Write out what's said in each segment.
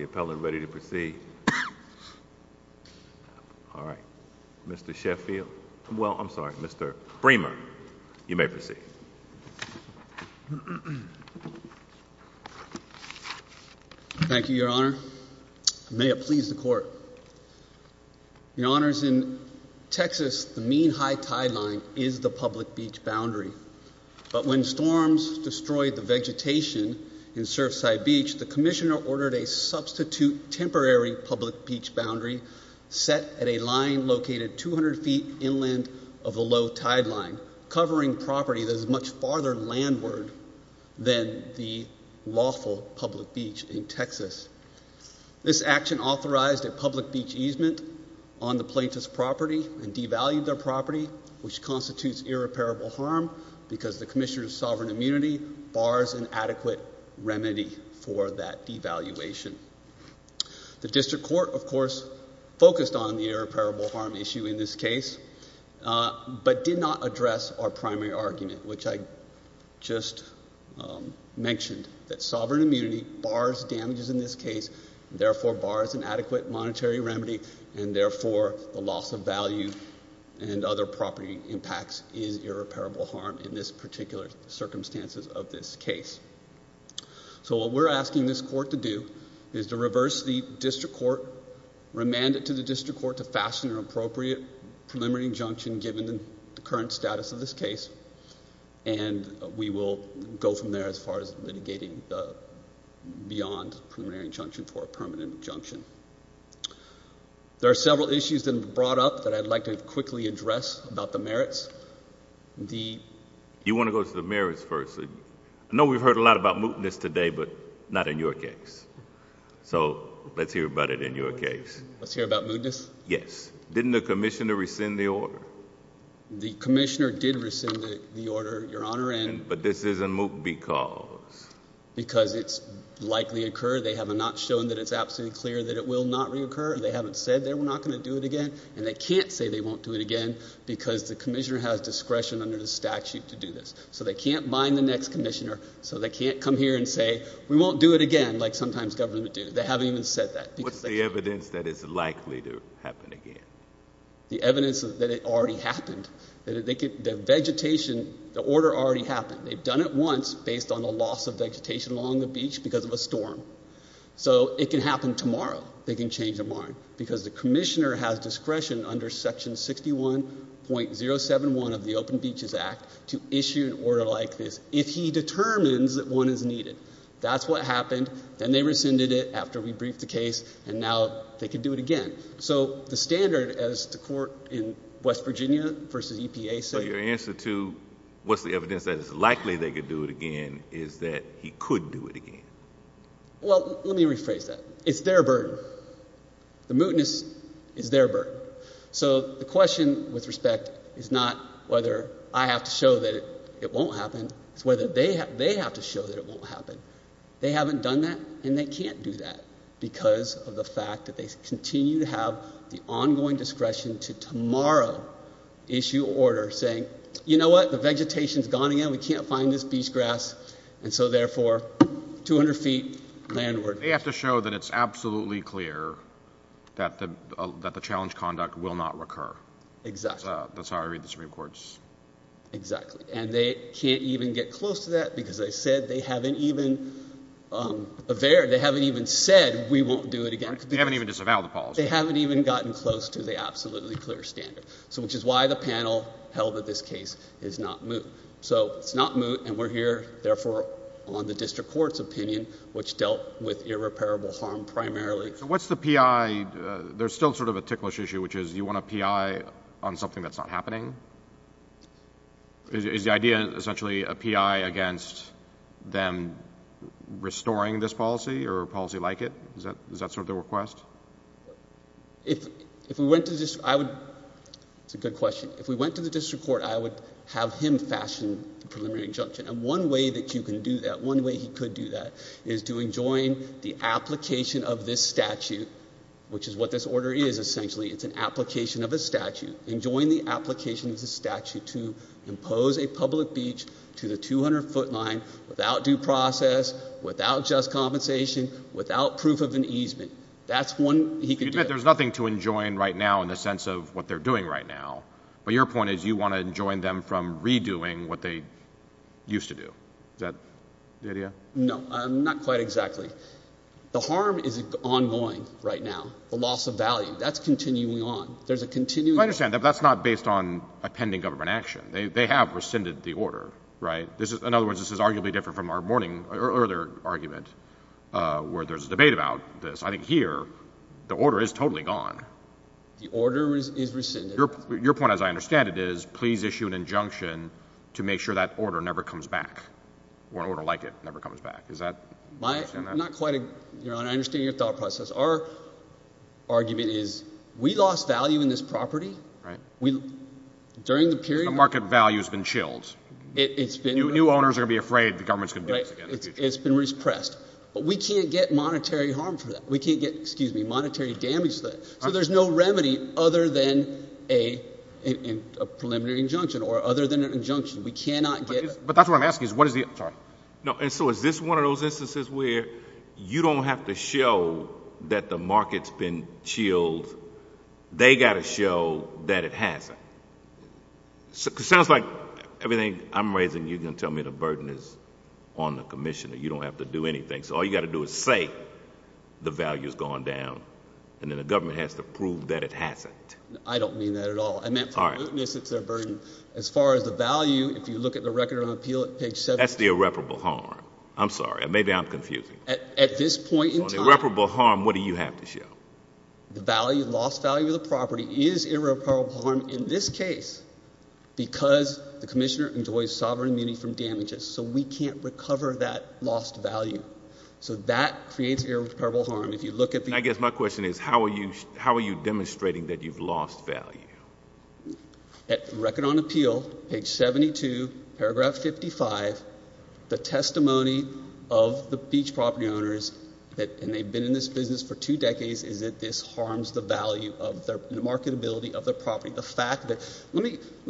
Appellate Ready to Proceed Mr. Sheffield Thank you, Your Honor. May it please the Court. Your Honors, in Texas, the mean high tide line is the public beach boundary. But when storms destroyed the vegetation in Surfside Beach, the Commissioner ordered a substitute temporary public beach boundary set at a line located 200 feet inland of the low tide line, covering property that is much farther landward than the lawful public beach in Texas. This action authorized a public beach easement on the plaintiff's property and devalued their property, which constitutes irreparable harm because the Commissioner of Sovereign Immunity bars an adequate remedy for that devaluation. The District Court, of course, focused on the irreparable harm issue in this case, but did not address our primary argument, which I just mentioned, that sovereign immunity bars damages in this case, therefore bars an adequate monetary remedy, and therefore the loss of value and other property impacts is irreparable harm in this particular circumstances of this case. So what we're asking this Court to do is to reverse the District Court, remand it to the District Court to fashion an appropriate preliminary injunction given the current status of this case, and we will go from there as far as litigating beyond preliminary injunction for a permanent injunction. There are several issues that have been brought up that I'd like to quickly address about the merits. You want to go to the merits first. I know we've heard a lot about mootness today, but not in your case. So let's hear about it in your case. Let's hear about mootness? Yes. Didn't the Commissioner rescind the order? The Commissioner did rescind the order, Your Honor. But this isn't moot because? Because it's likely to occur. They have not shown that it's absolutely clear that it will not reoccur. They haven't said that we're not going to do it again, and they can't say they won't do it again because the Commissioner has discretion under the statute to do this. So they can't bind the next Commissioner, so they can't come here and say, we won't do it again like sometimes government do. They haven't even said that. What's the evidence that it's likely to happen again? The evidence that it already happened. The vegetation, the order already happened. They've done it once based on the loss of vegetation along the beach because of a storm. So it can happen tomorrow. They can change their mind. Because the Commissioner has discretion under Section 61.071 of the Open Beaches Act to issue an order like this if he determines that one is needed. That's what happened. Then they rescinded it after we briefed the case, and now they can do it again. So the standard as the court in West Virginia versus EPA said. So your answer to what's the evidence that it's likely they could do it again is that he could do it again. Well, let me rephrase that. It's their burden. The mootness is their burden. So the question with respect is not whether I have to show that it won't happen. It's whether they have to show that it won't happen. They haven't done that, and they can't do that because of the fact that they continue to have the ongoing discretion to tomorrow issue an order saying, you know what, the vegetation's gone again. We can't find this beach grass, and so therefore 200 feet landward. They have to show that it's absolutely clear that the challenge conduct will not recur. Exactly. That's how I read the Supreme Court's. Exactly, and they can't even get close to that because they said they haven't even said we won't do it again. They haven't even disavowed the policy. They haven't even gotten close to the absolutely clear standard, which is why the panel held that this case is not moot. So it's not moot, and we're here, therefore, on the district court's opinion, which dealt with irreparable harm primarily. So what's the PI? There's still sort of a ticklish issue, which is you want a PI on something that's not happening. Is the idea essentially a PI against them restoring this policy or a policy like it? Is that sort of their request? If we went to the district court, I would have him fashion the preliminary injunction, and one way that you can do that, one way he could do that is to enjoin the application of this statute, which is what this order is essentially. It's an application of a statute, enjoin the application of the statute to impose a public beach to the 200-foot line without due process, without just compensation, without proof of an easement. That's one he could do. If you admit there's nothing to enjoin right now in the sense of what they're doing right now, but your point is you want to enjoin them from redoing what they used to do. Is that the idea? No, not quite exactly. The harm is ongoing right now, the loss of value. That's continuing on. There's a continuing on. I understand, but that's not based on a pending government action. They have rescinded the order, right? In other words, this is arguably different from our earlier argument where there's a debate about this. I think here the order is totally gone. The order is rescinded. Your point, as I understand it, is please issue an injunction to make sure that order never comes back, or an order like it never comes back. I understand your thought process. Our argument is we lost value in this property. The market value has been chilled. New owners are going to be afraid the government is going to do this again in the future. It's been repressed. But we can't get monetary harm for that. We can't get monetary damage to that. So there's no remedy other than a preliminary injunction or other than an injunction. But that's what I'm asking. And so is this one of those instances where you don't have to show that the market's been chilled? They've got to show that it hasn't. Because it sounds like everything I'm raising you're going to tell me the burden is on the commissioner. You don't have to do anything. So all you've got to do is say the value has gone down, and then the government has to prove that it hasn't. I don't mean that at all. It's their burden. As far as the value, if you look at the record on page 7. That's the irreparable harm. I'm sorry. Maybe I'm confusing. At this point in time. On irreparable harm, what do you have to show? The value, lost value of the property is irreparable harm in this case, because the commissioner enjoys sovereign immunity from damages. So we can't recover that lost value. So that creates irreparable harm. I guess my question is, how are you demonstrating that you've lost value? At record on appeal, page 72, paragraph 55, the testimony of the beach property owners, and they've been in this business for two decades, is that this harms the value of their marketability of their property. The fact that, let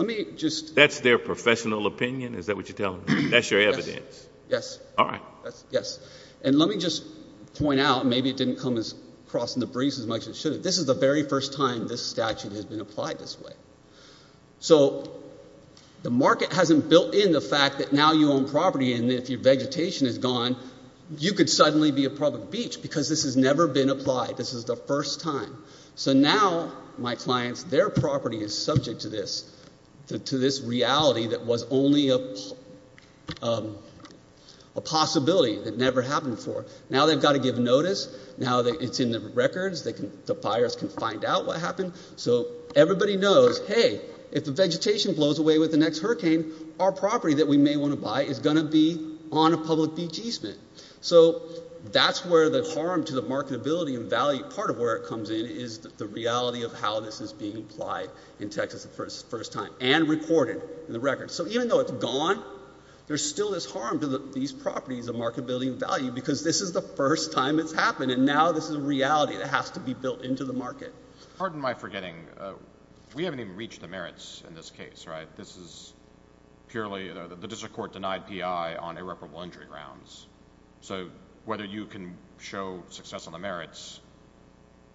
me just. That's their professional opinion? Is that what you're telling me? That's your evidence? Yes. All right. Yes. And let me just point out, maybe it didn't come as crossing the breeze as much as it should have. This is the very first time this statute has been applied this way. So the market hasn't built in the fact that now you own property, and if your vegetation is gone, you could suddenly be a public beach, because this has never been applied. This is the first time. So now, my clients, their property is subject to this reality that was only a possibility that never happened before. Now they've got to give notice. Now it's in the records. The buyers can find out what happened. So everybody knows, hey, if the vegetation blows away with the next hurricane, our property that we may want to buy is going to be on a public beach easement. So that's where the harm to the marketability and value, part of where it comes in, is the reality of how this is being applied in Texas the first time and recorded in the records. So even though it's gone, there's still this harm to these properties of marketability and value, because this is the first time it's happened, and now this is a reality that has to be built into the market. Pardon my forgetting. We haven't even reached the merits in this case, right? This is purely the district court denied PI on irreparable injury grounds. So whether you can show success on the merits,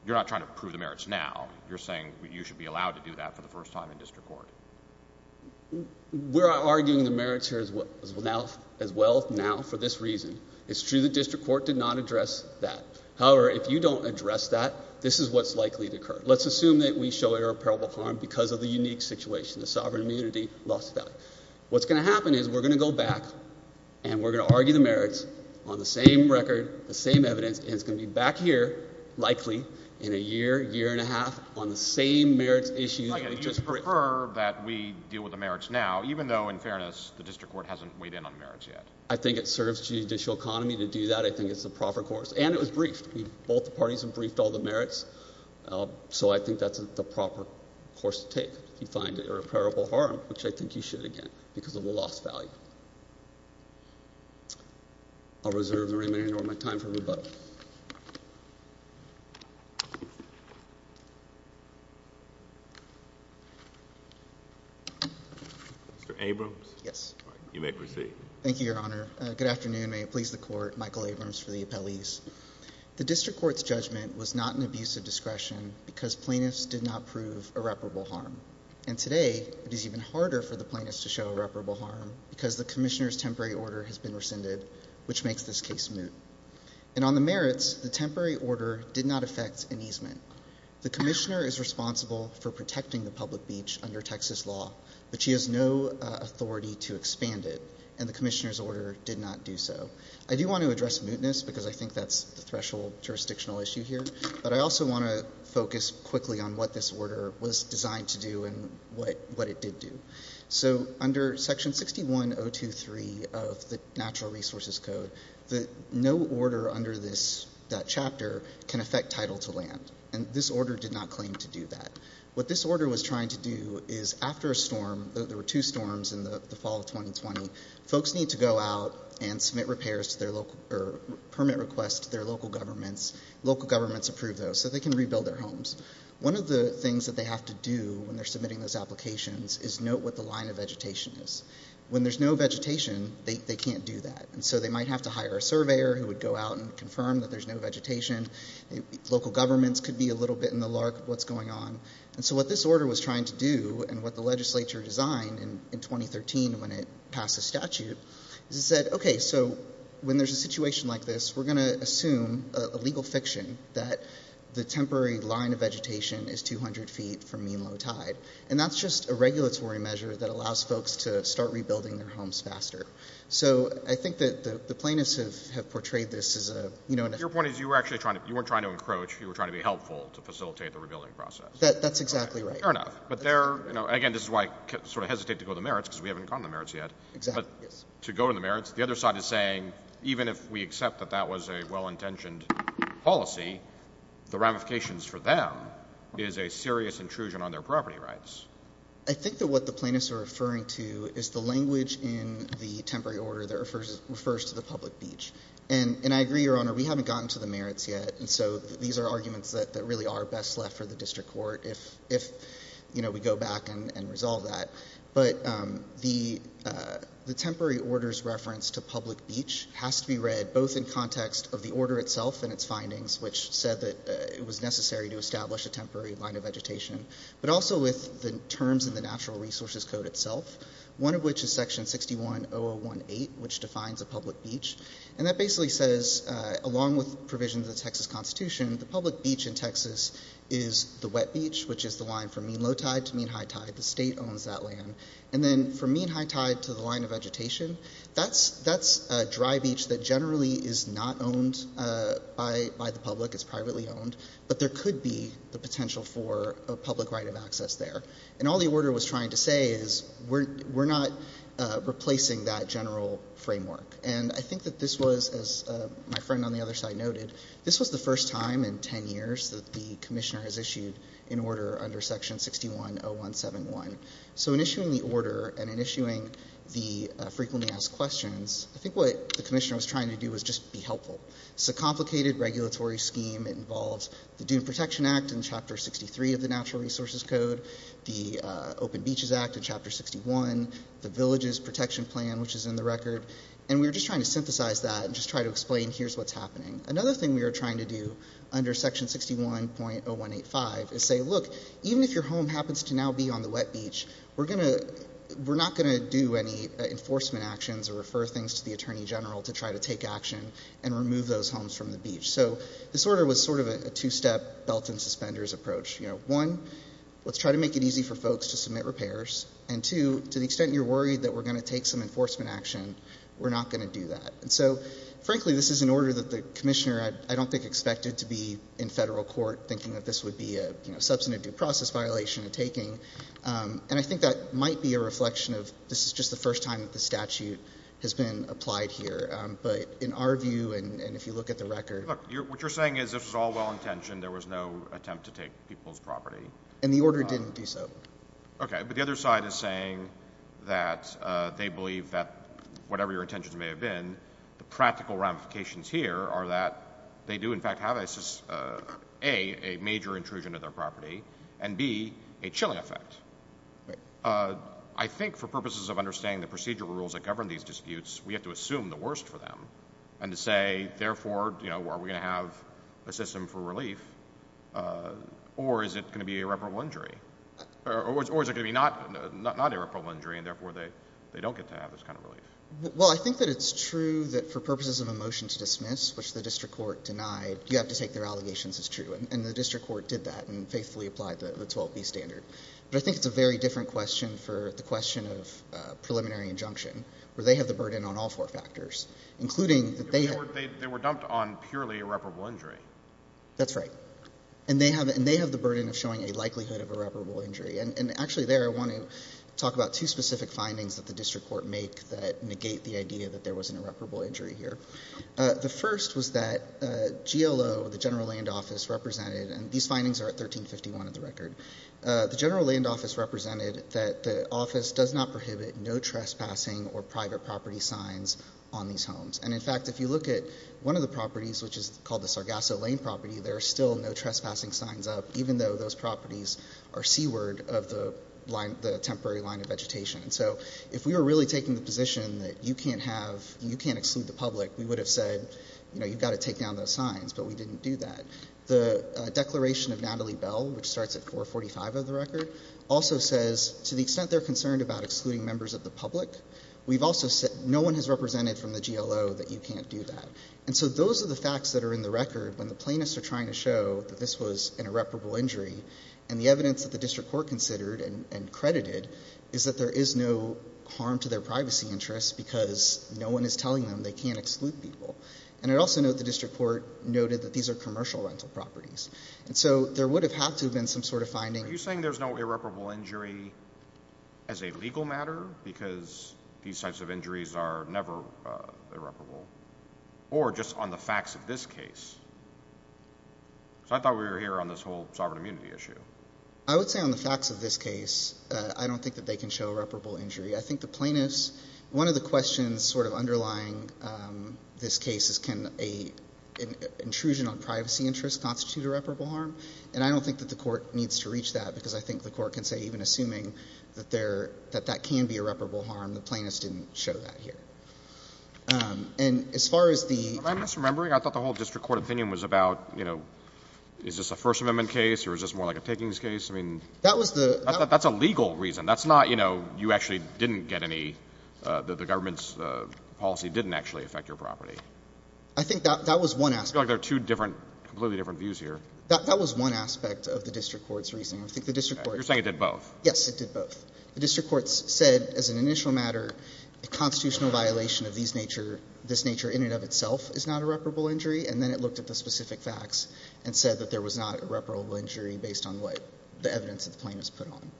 you're not trying to prove the merits now. You're saying you should be allowed to do that for the first time in district court. We're arguing the merits here as well now for this reason. It's true the district court did not address that. However, if you don't address that, this is what's likely to occur. Let's assume that we show irreparable harm because of the unique situation, the sovereign immunity loss of value. What's going to happen is we're going to go back, and we're going to argue the merits on the same record, the same evidence, and it's going to be back here likely in a year, year and a half on the same merits issue that we just briefed. You prefer that we deal with the merits now even though, in fairness, the district court hasn't weighed in on the merits yet. I think it serves the judicial economy to do that. I think it's the proper course, and it was briefed. Both the parties have briefed all the merits, so I think that's the proper course to take if you find irreparable harm, which I think you should again because of the loss of value. I'll reserve the remainder of my time for rebuttal. Mr. Abrams? Yes. You may proceed. Thank you, Your Honor. Good afternoon. May it please the Court. Michael Abrams for the appellees. The district court's judgment was not an abuse of discretion because plaintiffs did not prove irreparable harm. And today it is even harder for the plaintiffs to show irreparable harm because the Commissioner's temporary order has been rescinded, which makes this case moot. And on the merits, the temporary order did not affect an easement. The Commissioner is responsible for protecting the public beach under Texas law, but she has no authority to expand it, and the Commissioner's order did not do so. I do want to address mootness because I think that's the threshold jurisdictional issue here, but I also want to focus quickly on what this order was designed to do and what it did do. So under Section 61023 of the Natural Resources Code, no order under that chapter can affect title to land, and this order did not claim to do that. What this order was trying to do is after a storm, there were two storms in the fall of 2020, folks need to go out and submit repairs to their local or permit requests to their local governments. Local governments approve those so they can rebuild their homes. One of the things that they have to do when they're submitting those applications is note what the line of vegetation is. When there's no vegetation, they can't do that, and so they might have to hire a surveyor who would go out and confirm that there's no vegetation. Local governments could be a little bit in the lark of what's going on. And so what this order was trying to do and what the legislature designed in 2013 when it passed the statute, is it said, okay, so when there's a situation like this, we're going to assume a legal fiction that the temporary line of vegetation is 200 feet from mean low tide, and that's just a regulatory measure that allows folks to start rebuilding their homes faster. So I think that the plaintiffs have portrayed this as a, you know, Your point is you weren't trying to encroach, you were trying to be helpful to facilitate the rebuilding process. That's exactly right. Fair enough. But again, this is why I sort of hesitate to go to the merits because we haven't gone to the merits yet. But to go to the merits, the other side is saying even if we accept that that was a well-intentioned policy, the ramifications for them is a serious intrusion on their property rights. I think that what the plaintiffs are referring to is the language in the temporary order that refers to the public beach. And I agree, Your Honor, we haven't gotten to the merits yet, and so these are arguments that really are best left for the district court if, you know, we go back and resolve that. But the temporary order's reference to public beach has to be read both in context of the order itself and its findings, which said that it was necessary to establish a temporary line of vegetation, but also with the terms in the Natural Resources Code itself, one of which is Section 61018, which defines a public beach, and that basically says along with provisions of the Texas Constitution, the public beach in Texas is the wet beach, which is the line from mean low tide to mean high tide. The state owns that land. And then from mean high tide to the line of vegetation, that's a dry beach that generally is not owned by the public. It's privately owned. But there could be the potential for a public right of access there. And all the order was trying to say is we're not replacing that general framework. And I think that this was, as my friend on the other side noted, this was the first time in 10 years that the commissioner has issued an order under Section 610171. So in issuing the order and in issuing the frequently asked questions, I think what the commissioner was trying to do was just be helpful. It's a complicated regulatory scheme. It involves the Dune Protection Act in Chapter 63 of the Natural Resources Code, the Open Beaches Act in Chapter 61, the Villages Protection Plan, which is in the record. And we were just trying to synthesize that and just try to explain here's what's happening. Another thing we were trying to do under Section 61.0185 is say, look, even if your home happens to now be on the wet beach, we're not going to do any enforcement actions or refer things to the attorney general to try to take action and remove those homes from the beach. So this order was sort of a two-step belt and suspenders approach. One, let's try to make it easy for folks to submit repairs. And, two, to the extent you're worried that we're going to take some enforcement action, we're not going to do that. And so, frankly, this is an order that the commissioner I don't think expected to be in federal court thinking that this would be a substantive due process violation of taking. And I think that might be a reflection of this is just the first time that the statute has been applied here. But in our view and if you look at the record. Look, what you're saying is this was all well-intentioned. There was no attempt to take people's property. And the order didn't do so. Okay. But the other side is saying that they believe that whatever your intentions may have been, the practical ramifications here are that they do, in fact, have a major intrusion of their property and, B, a chilling effect. I think for purposes of understanding the procedural rules that govern these disputes, we have to assume the worst for them and to say, therefore, are we going to have a system for relief or is it going to be an irreparable injury? Or is it going to be not an irreparable injury and, therefore, they don't get to have this kind of relief? Well, I think that it's true that for purposes of a motion to dismiss, which the district court denied, you have to take their allegations as true. And the district court did that and faithfully applied the 12B standard. But I think it's a very different question for the question of preliminary injunction where they have the burden on all four factors, including that they have. They were dumped on purely irreparable injury. That's right. And they have the burden of showing a likelihood of irreparable injury. And actually there I want to talk about two specific findings that the district court make that negate the idea that there was an irreparable injury here. The first was that GLO, the general land office, represented, and these findings are at 1351 of the record, the general land office represented that the office does not prohibit no trespassing or private property signs on these homes. And, in fact, if you look at one of the properties, which is called the Sargasso Lane property, there are still no trespassing signs up, even though those properties are seaward of the temporary line of vegetation. So if we were really taking the position that you can't exclude the public, we would have said you've got to take down those signs, but we didn't do that. And the declaration of Natalie Bell, which starts at 445 of the record, also says to the extent they're concerned about excluding members of the public, we've also said no one has represented from the GLO that you can't do that. And so those are the facts that are in the record when the plaintiffs are trying to show that this was an irreparable injury. And the evidence that the district court considered and credited is that there is no harm to their privacy interests because no one is telling them they can't exclude people. And I'd also note the district court noted that these are commercial rental properties. And so there would have had to have been some sort of finding. Are you saying there's no irreparable injury as a legal matter because these types of injuries are never irreparable? Or just on the facts of this case? Because I thought we were here on this whole sovereign immunity issue. I would say on the facts of this case, I don't think that they can show irreparable injury. I think the plaintiffs, one of the questions sort of underlying this case is can an intrusion on privacy interests constitute irreparable harm? And I don't think that the court needs to reach that because I think the court can say, even assuming that that can be irreparable harm, the plaintiffs didn't show that here. And as far as the — Am I misremembering? I thought the whole district court opinion was about, you know, is this a First Amendment case or is this more like a Piggings case? I mean, that's a legal reason. That's not, you know, you actually didn't get any — the government's policy didn't actually affect your property. I think that was one aspect. I feel like there are two different — completely different views here. That was one aspect of the district court's reasoning. I think the district court — You're saying it did both? Yes, it did both. The district court said as an initial matter, a constitutional violation of this nature in and of itself is not irreparable injury. And then it looked at the specific facts and said that there was not irreparable injury based on what — the evidence that the plaintiffs put on.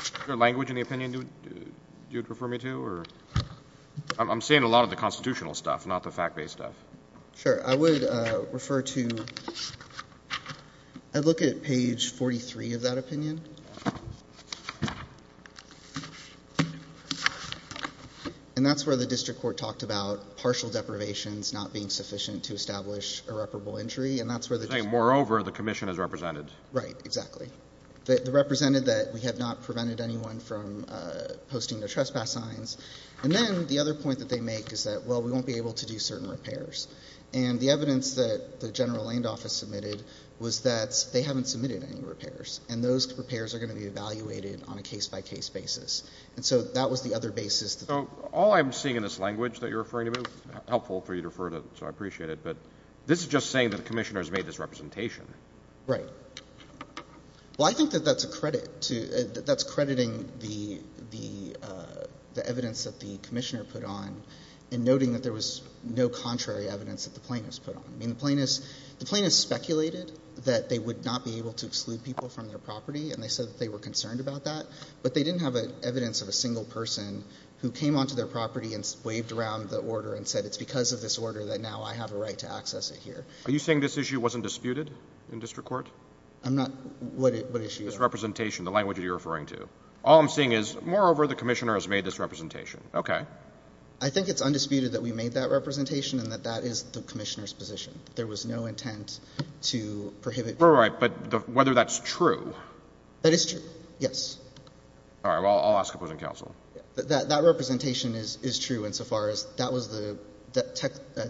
Is there language in the opinion you would refer me to or — I'm saying a lot of the constitutional stuff, not the fact-based stuff. Sure. I would refer to — I'd look at page 43 of that opinion. And that's where the district court talked about partial deprivations not being sufficient to establish irreparable injury. And that's where the district court — You're saying, moreover, the commission has represented. Right. Exactly. They represented that we have not prevented anyone from posting their trespass signs. And then the other point that they make is that, well, we won't be able to do certain repairs. And the evidence that the general land office submitted was that they haven't submitted any repairs. And those repairs are going to be evaluated on a case-by-case basis. And so that was the other basis. So all I'm seeing in this language that you're referring to — helpful for you to refer to, so I appreciate it. But this is just saying that the commissioner has made this representation. Right. Well, I think that that's a credit to — that's crediting the evidence that the commissioner put on and noting that there was no contrary evidence that the plaintiffs put on. I mean, the plaintiffs speculated that they would not be able to exclude people from their property, and they said that they were concerned about that. But they didn't have evidence of a single person who came onto their property and waved around the order and said it's because of this order that now I have a right to access it here. Are you saying this issue wasn't disputed in district court? I'm not — what issue? This representation, the language that you're referring to. All I'm seeing is, moreover, the commissioner has made this representation. Okay. I think it's undisputed that we made that representation and that that is the commissioner's position. There was no intent to prohibit — All right, but whether that's true. That is true, yes. All right, well, I'll ask opposing counsel. That representation is true insofar as that was the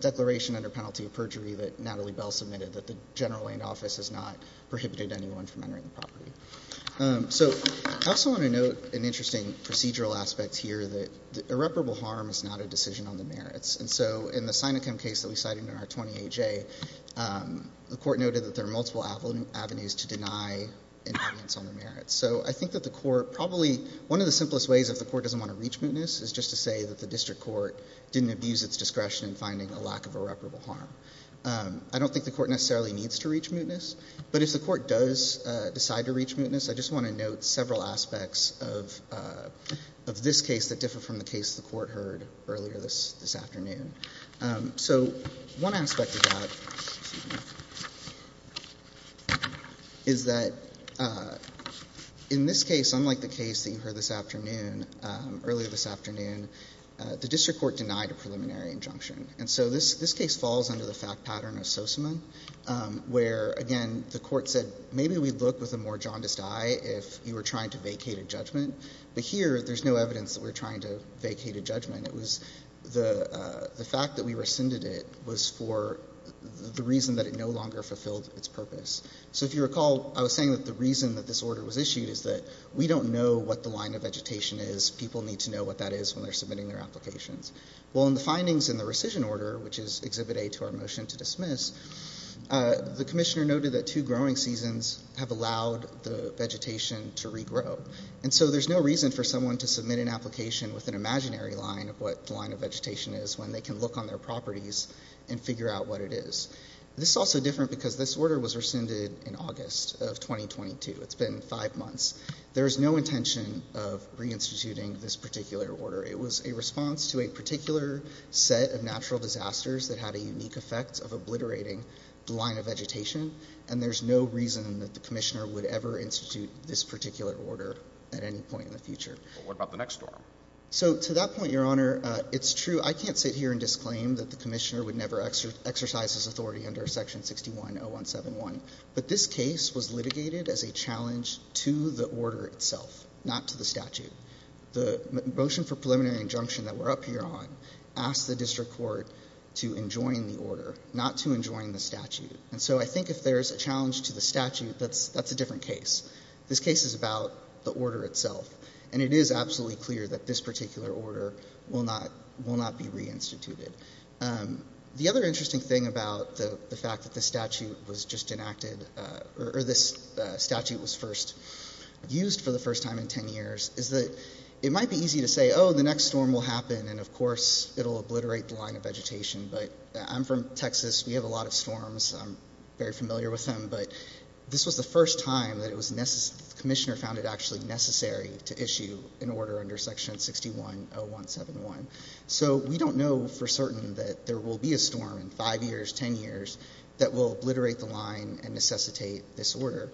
declaration under penalty of perjury that Natalie Bell submitted, that the general land office has not prohibited anyone from entering the property. So I also want to note an interesting procedural aspect here, that irreparable harm is not a decision on the merits. And so in the Sinecom case that we cited in our 20A-J, the Court noted that there are multiple avenues to deny an audience on the merits. So I think that the Court probably — one of the simplest ways if the Court doesn't want to reach mootness is just to say that the district court didn't abuse its discretion in finding a lack of irreparable harm. I don't think the Court necessarily needs to reach mootness, but if the Court does decide to reach mootness, I just want to note several aspects of this case that differ from the case the Court heard earlier this afternoon. So one aspect of that is that in this case, unlike the case that you heard this afternoon, earlier this afternoon, the district court denied a preliminary injunction. And so this case falls under the fact pattern of Sosamon, where, again, the Court said maybe we'd look with a more jaundiced eye if you were trying to vacate a judgment. But here there's no evidence that we're trying to vacate a judgment. It was the fact that we rescinded it was for the reason that it no longer fulfilled its purpose. So if you recall, I was saying that the reason that this order was issued is that we don't know what the line of vegetation is. People need to know what that is when they're submitting their applications. Well, in the findings in the rescission order, which is Exhibit A to our motion to dismiss, the commissioner noted that two growing seasons have allowed the vegetation to regrow. And so there's no reason for someone to submit an application with an imaginary line of what the line of vegetation is when they can look on their properties and figure out what it is. This is also different because this order was rescinded in August of 2022. It's been five months. There is no intention of reinstituting this particular order. It was a response to a particular set of natural disasters that had a unique effect of obliterating the line of vegetation, and there's no reason that the commissioner would ever institute this particular order at any point in the future. But what about the next storm? So to that point, Your Honor, it's true. I can't sit here and disclaim that the commissioner would never exercise his authority under Section 610171. But this case was litigated as a challenge to the order itself, not to the statute. The motion for preliminary injunction that we're up here on asked the district court to enjoin the order, not to enjoin the statute. And so I think if there's a challenge to the statute, that's a different case. This case is about the order itself, and it is absolutely clear that this particular order will not be reinstituted. The other interesting thing about the fact that this statute was just enacted, or this statute was first used for the first time in 10 years, is that it might be easy to say, oh, the next storm will happen, and, of course, it'll obliterate the line of vegetation. But I'm from Texas. We have a lot of storms. I'm very familiar with them. But this was the first time that the commissioner found it actually necessary to issue an order under Section 610171. So we don't know for certain that there will be a storm in 5 years, 10 years, that will obliterate the line and necessitate this order.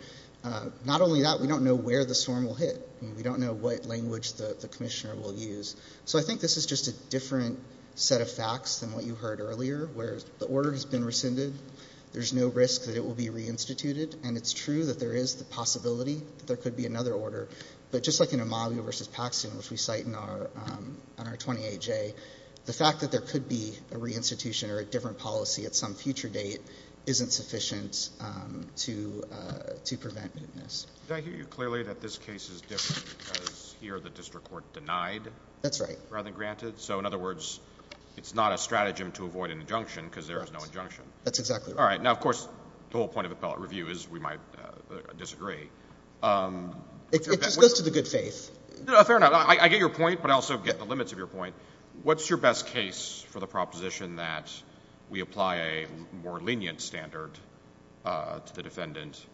Not only that, we don't know where the storm will hit. We don't know what language the commissioner will use. So I think this is just a different set of facts than what you heard earlier, where the order has been rescinded. There's no risk that it will be reinstituted, and it's true that there is the possibility that there could be another order. But just like in Amalia v. Paxton, which we cite in our 28J, the fact that there could be a reinstitution or a different policy at some future date isn't sufficient to prevent mootness. Did I hear you clearly that this case is different because here the district court denied rather than granted? That's right. So, in other words, it's not a stratagem to avoid an injunction because there is no injunction. That's exactly right. All right. Now, of course, the whole point of appellate review is we might disagree. It just goes to the good faith. Fair enough. I get your point, but I also get the limits of your point. What's your best case for the proposition that we apply a more lenient standard to the defendant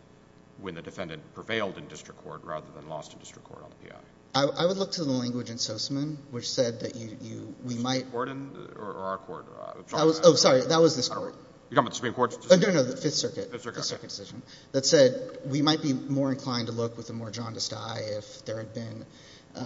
when the defendant prevailed in district court rather than lost in district court on the P.I.? I would look to the language in Soseman, which said that you – we might – District court or our court? Oh, sorry. That was this court. You're talking about the Supreme Court's decision? No, no, no, the Fifth Circuit. Fifth Circuit, okay. That said, we might be more inclined to look with a more jaundiced eye if there had been – More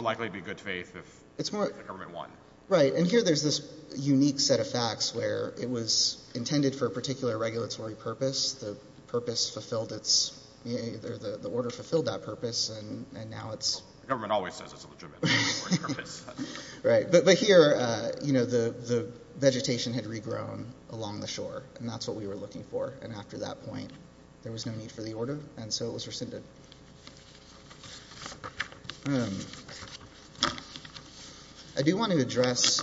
likely to be good faith if the government won. Right, and here there's this unique set of facts where it was intended for a particular regulatory purpose. The purpose fulfilled its – the order fulfilled that purpose, and now it's – The government always says it's a legitimate purpose. Right, but here the vegetation had regrown along the shore, and that's what we were looking for. And after that point, there was no need for the order, and so it was rescinded. I do want to address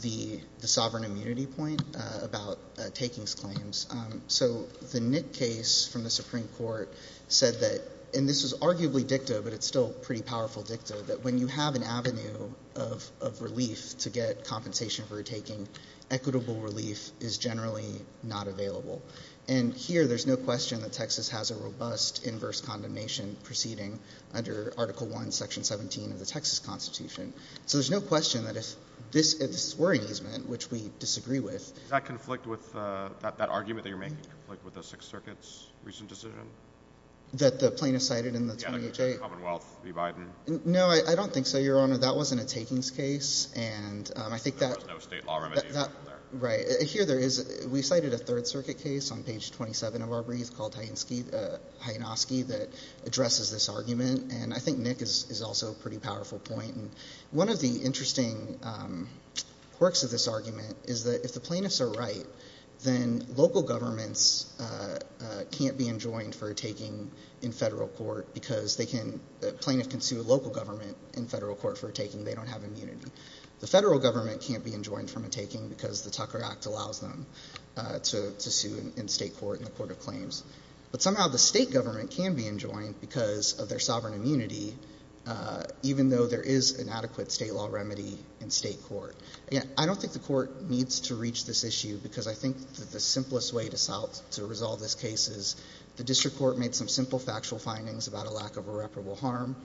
the sovereign immunity point about takings claims. So the Knitt case from the Supreme Court said that – and this was arguably dicta, but it's still pretty powerful dicta – that when you have an avenue of relief to get compensation for a taking, equitable relief is generally not available. And here there's no question that Texas has a robust inverse condemnation proceeding under Article I, Section 17 of the Texas Constitution. So there's no question that if this – if this were an easement, which we disagree with – Does that conflict with – that argument that you're making conflict with the Sixth Circuit's recent decision? That the plaintiff cited in the 2008 – Yeah, the Commonwealth v. Biden. No, I don't think so, Your Honor. That wasn't a takings case, and I think that – There was no state law remediation there. Right. Here there is. We cited a Third Circuit case on page 27 of our brief called Hayansky that addresses this argument, and I think Nick is also a pretty powerful point. One of the interesting quirks of this argument is that if the plaintiffs are right, then local governments can't be enjoined for a taking in federal court because they can – the plaintiff can sue a local government in federal court for a taking. They don't have immunity. The federal government can't be enjoined for a taking because the Tucker Act allows them to sue in state court, in the court of claims. But somehow the state government can be enjoined because of their sovereign immunity, even though there is an adequate state law remedy in state court. I don't think the court needs to reach this issue because I think that the simplest way to solve – to resolve this case is the district court made some simple factual findings about a lack of irreparable harm.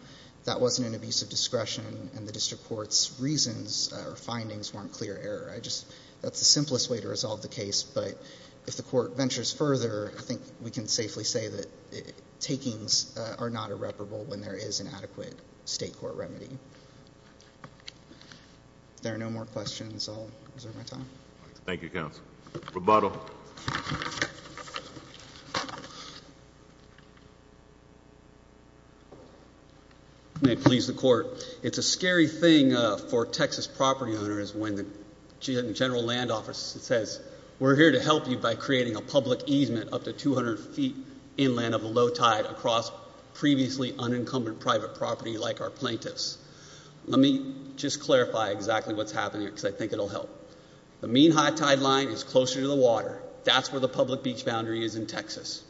That wasn't an abuse of discretion, and the district court's reasons or findings weren't clear error. I just – that's the simplest way to resolve the case, but if the court ventures further, I think we can safely say that takings are not irreparable when there is an adequate state court remedy. If there are no more questions, I'll reserve my time. Thank you, counsel. Rebuttal. Rebuttal. May it please the court. It's a scary thing for Texas property owners when the general land office says, we're here to help you by creating a public easement up to 200 feet inland of a low tide across previously unencumbered private property like our plaintiffs. Let me just clarify exactly what's happening because I think it will help. The mean high tide line is closer to the water. That's where the public beach boundary is in Texas.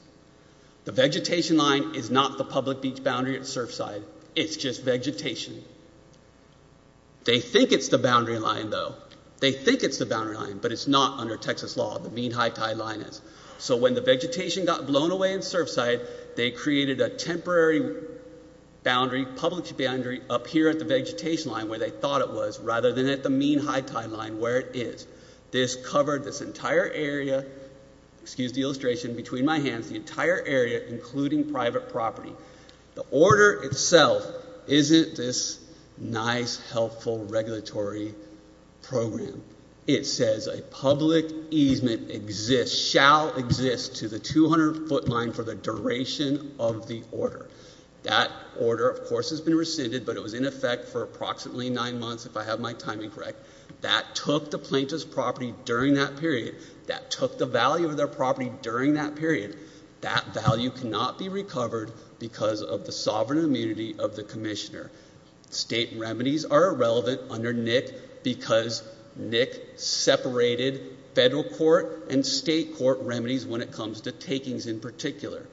The vegetation line is not the public beach boundary at Surfside. It's just vegetation. They think it's the boundary line, though. They think it's the boundary line, but it's not under Texas law. The mean high tide line is. So when the vegetation got blown away in Surfside, they created a temporary boundary, public boundary up here at the vegetation line where they thought it was rather than at the mean high tide line where it is. This covered this entire area, excuse the illustration, between my hands, the entire area including private property. The order itself isn't this nice, helpful regulatory program. It says a public easement exists, shall exist to the 200-foot line for the duration of the order. That order, of course, has been rescinded, but it was in effect for approximately nine months, if I have my timing correct. That took the plaintiff's property during that period. That took the value of their property during that period. That value cannot be recovered because of the sovereign immunity of the commissioner. State remedies are irrelevant under NIC because NIC separated federal court and state court remedies when it comes to takings in particular.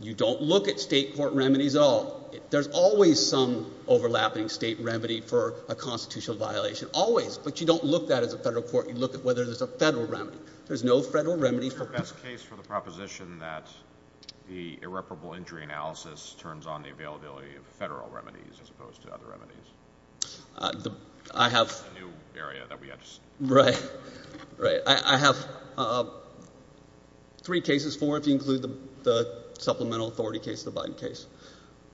You don't look at state court remedies at all. There's always some overlapping state remedy for a constitutional violation, always, but you don't look at it as a federal court. You look at whether there's a federal remedy. There's no federal remedy. What's the best case for the proposition that the irreparable injury analysis turns on the availability of federal remedies as opposed to other remedies? I have three cases, four if you include the supplemental authority case, the Biden case.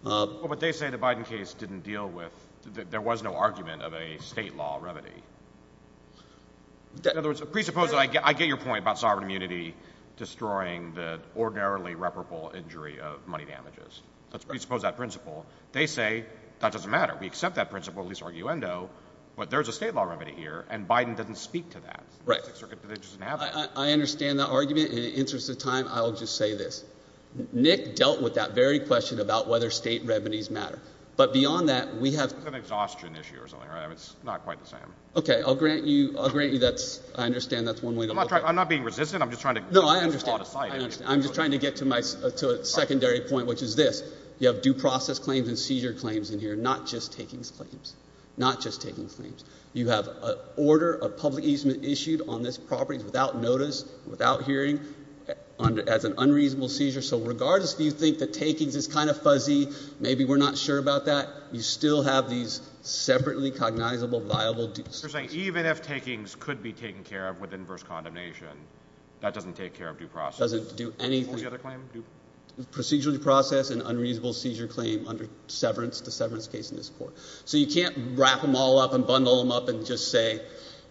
But they say the Biden case didn't deal with, there was no argument of a state law remedy. In other words, presuppose that I get your point about sovereign immunity destroying the ordinarily reparable injury of money damages. Let's presuppose that principle. They say that doesn't matter. We accept that principle, at least arguendo, but there's a state law remedy here, and Biden doesn't speak to that. I understand that argument. In the interest of time, I'll just say this. Nick dealt with that very question about whether state remedies matter. But beyond that, we have. It's an exhaustion issue or something, right? It's not quite the same. Okay. I'll grant you that's, I understand that's one way to look at it. I'm not being resistant. I'm just trying to. No, I understand. I'm just trying to get to a secondary point, which is this. You have due process claims and seizure claims in here, not just takings claims. Not just takings claims. You have an order of public easement issued on this property without notice, without hearing, as an unreasonable seizure. So regardless if you think that takings is kind of fuzzy, maybe we're not sure about that, you still have these separately cognizable, viable. You're saying even if takings could be taken care of with inverse condemnation, that doesn't take care of due process? Doesn't do anything. What was the other claim? Procedurally processed and unreasonable seizure claim under severance, the severance case in this court. So you can't wrap them all up and bundle them up and just say,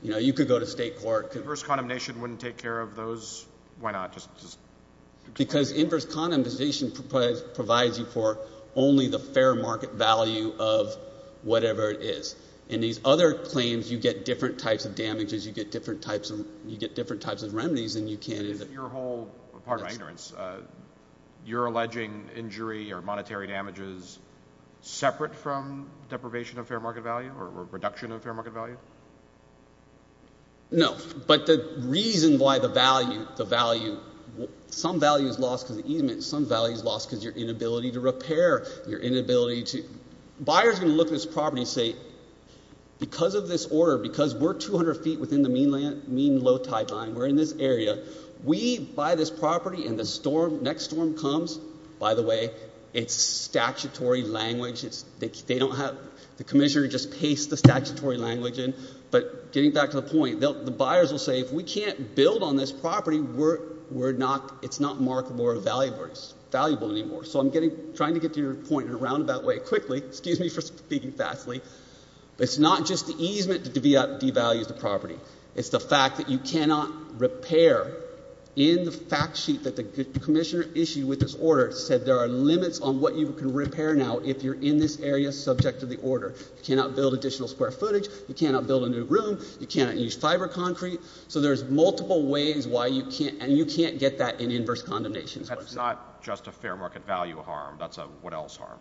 you know, you could go to state court. Inverse condemnation wouldn't take care of those? Why not? Because inverse condemnation provides you for only the fair market value of whatever it is. In these other claims, you get different types of damages, you get different types of remedies and you can't. Your whole, pardon my ignorance, you're alleging injury or monetary damages separate from deprivation of fair market value or reduction of fair market value? No. But the reason why the value, the value, some value is lost because of easement, some value is lost because of your inability to repair, your inability to, buyers are going to look at this property and say, because of this order, because we're 200 feet within the mean low tide line, we're in this area, we buy this property and the storm, next storm comes, by the way, it's statutory language, they don't have, the commissioner just pastes the statutory language in, but getting back to the point, the buyers will say, if we can't build on this property, we're not, it's not marketable or valuable anymore. So I'm trying to get to your point in a roundabout way quickly, excuse me for speaking fastly, it's not just the easement that devalues the property, it's the fact that you cannot repair in the fact sheet that the commissioner issued with this order said there are limits on what you can repair now if you're in this area subject to the order. You cannot build additional square footage, you cannot build a new room, you cannot use fiber concrete, so there's multiple ways why you can't, and you can't get that in inverse condemnation. That's not just a fair market value harm, that's a what else harm?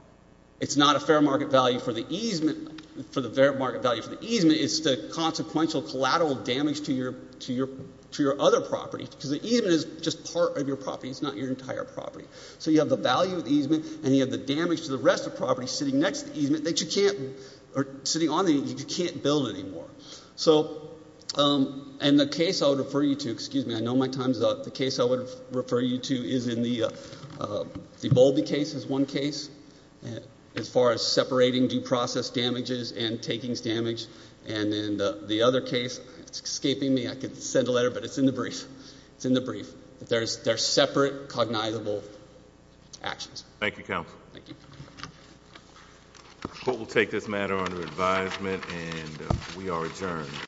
It's not a fair market value for the easement, for the fair market value for the easement, it's the consequential collateral damage to your other property, because the easement is just part of your property, it's not your entire property. So you have the value of the easement and you have the damage to the rest of the property sitting next to the easement that you can't, or sitting on the easement that you can't build anymore. So, and the case I would refer you to, excuse me, I know my time's up, the case I would refer you to is in the Bowlby case is one case, as far as separating due process damages and takings damage, and in the other case, it's escaping me, I could send a letter, but it's in the brief, it's in the brief, there's separate cognizable actions. Thank you, counsel. Thank you. The court will take this matter under advisement and we are adjourned.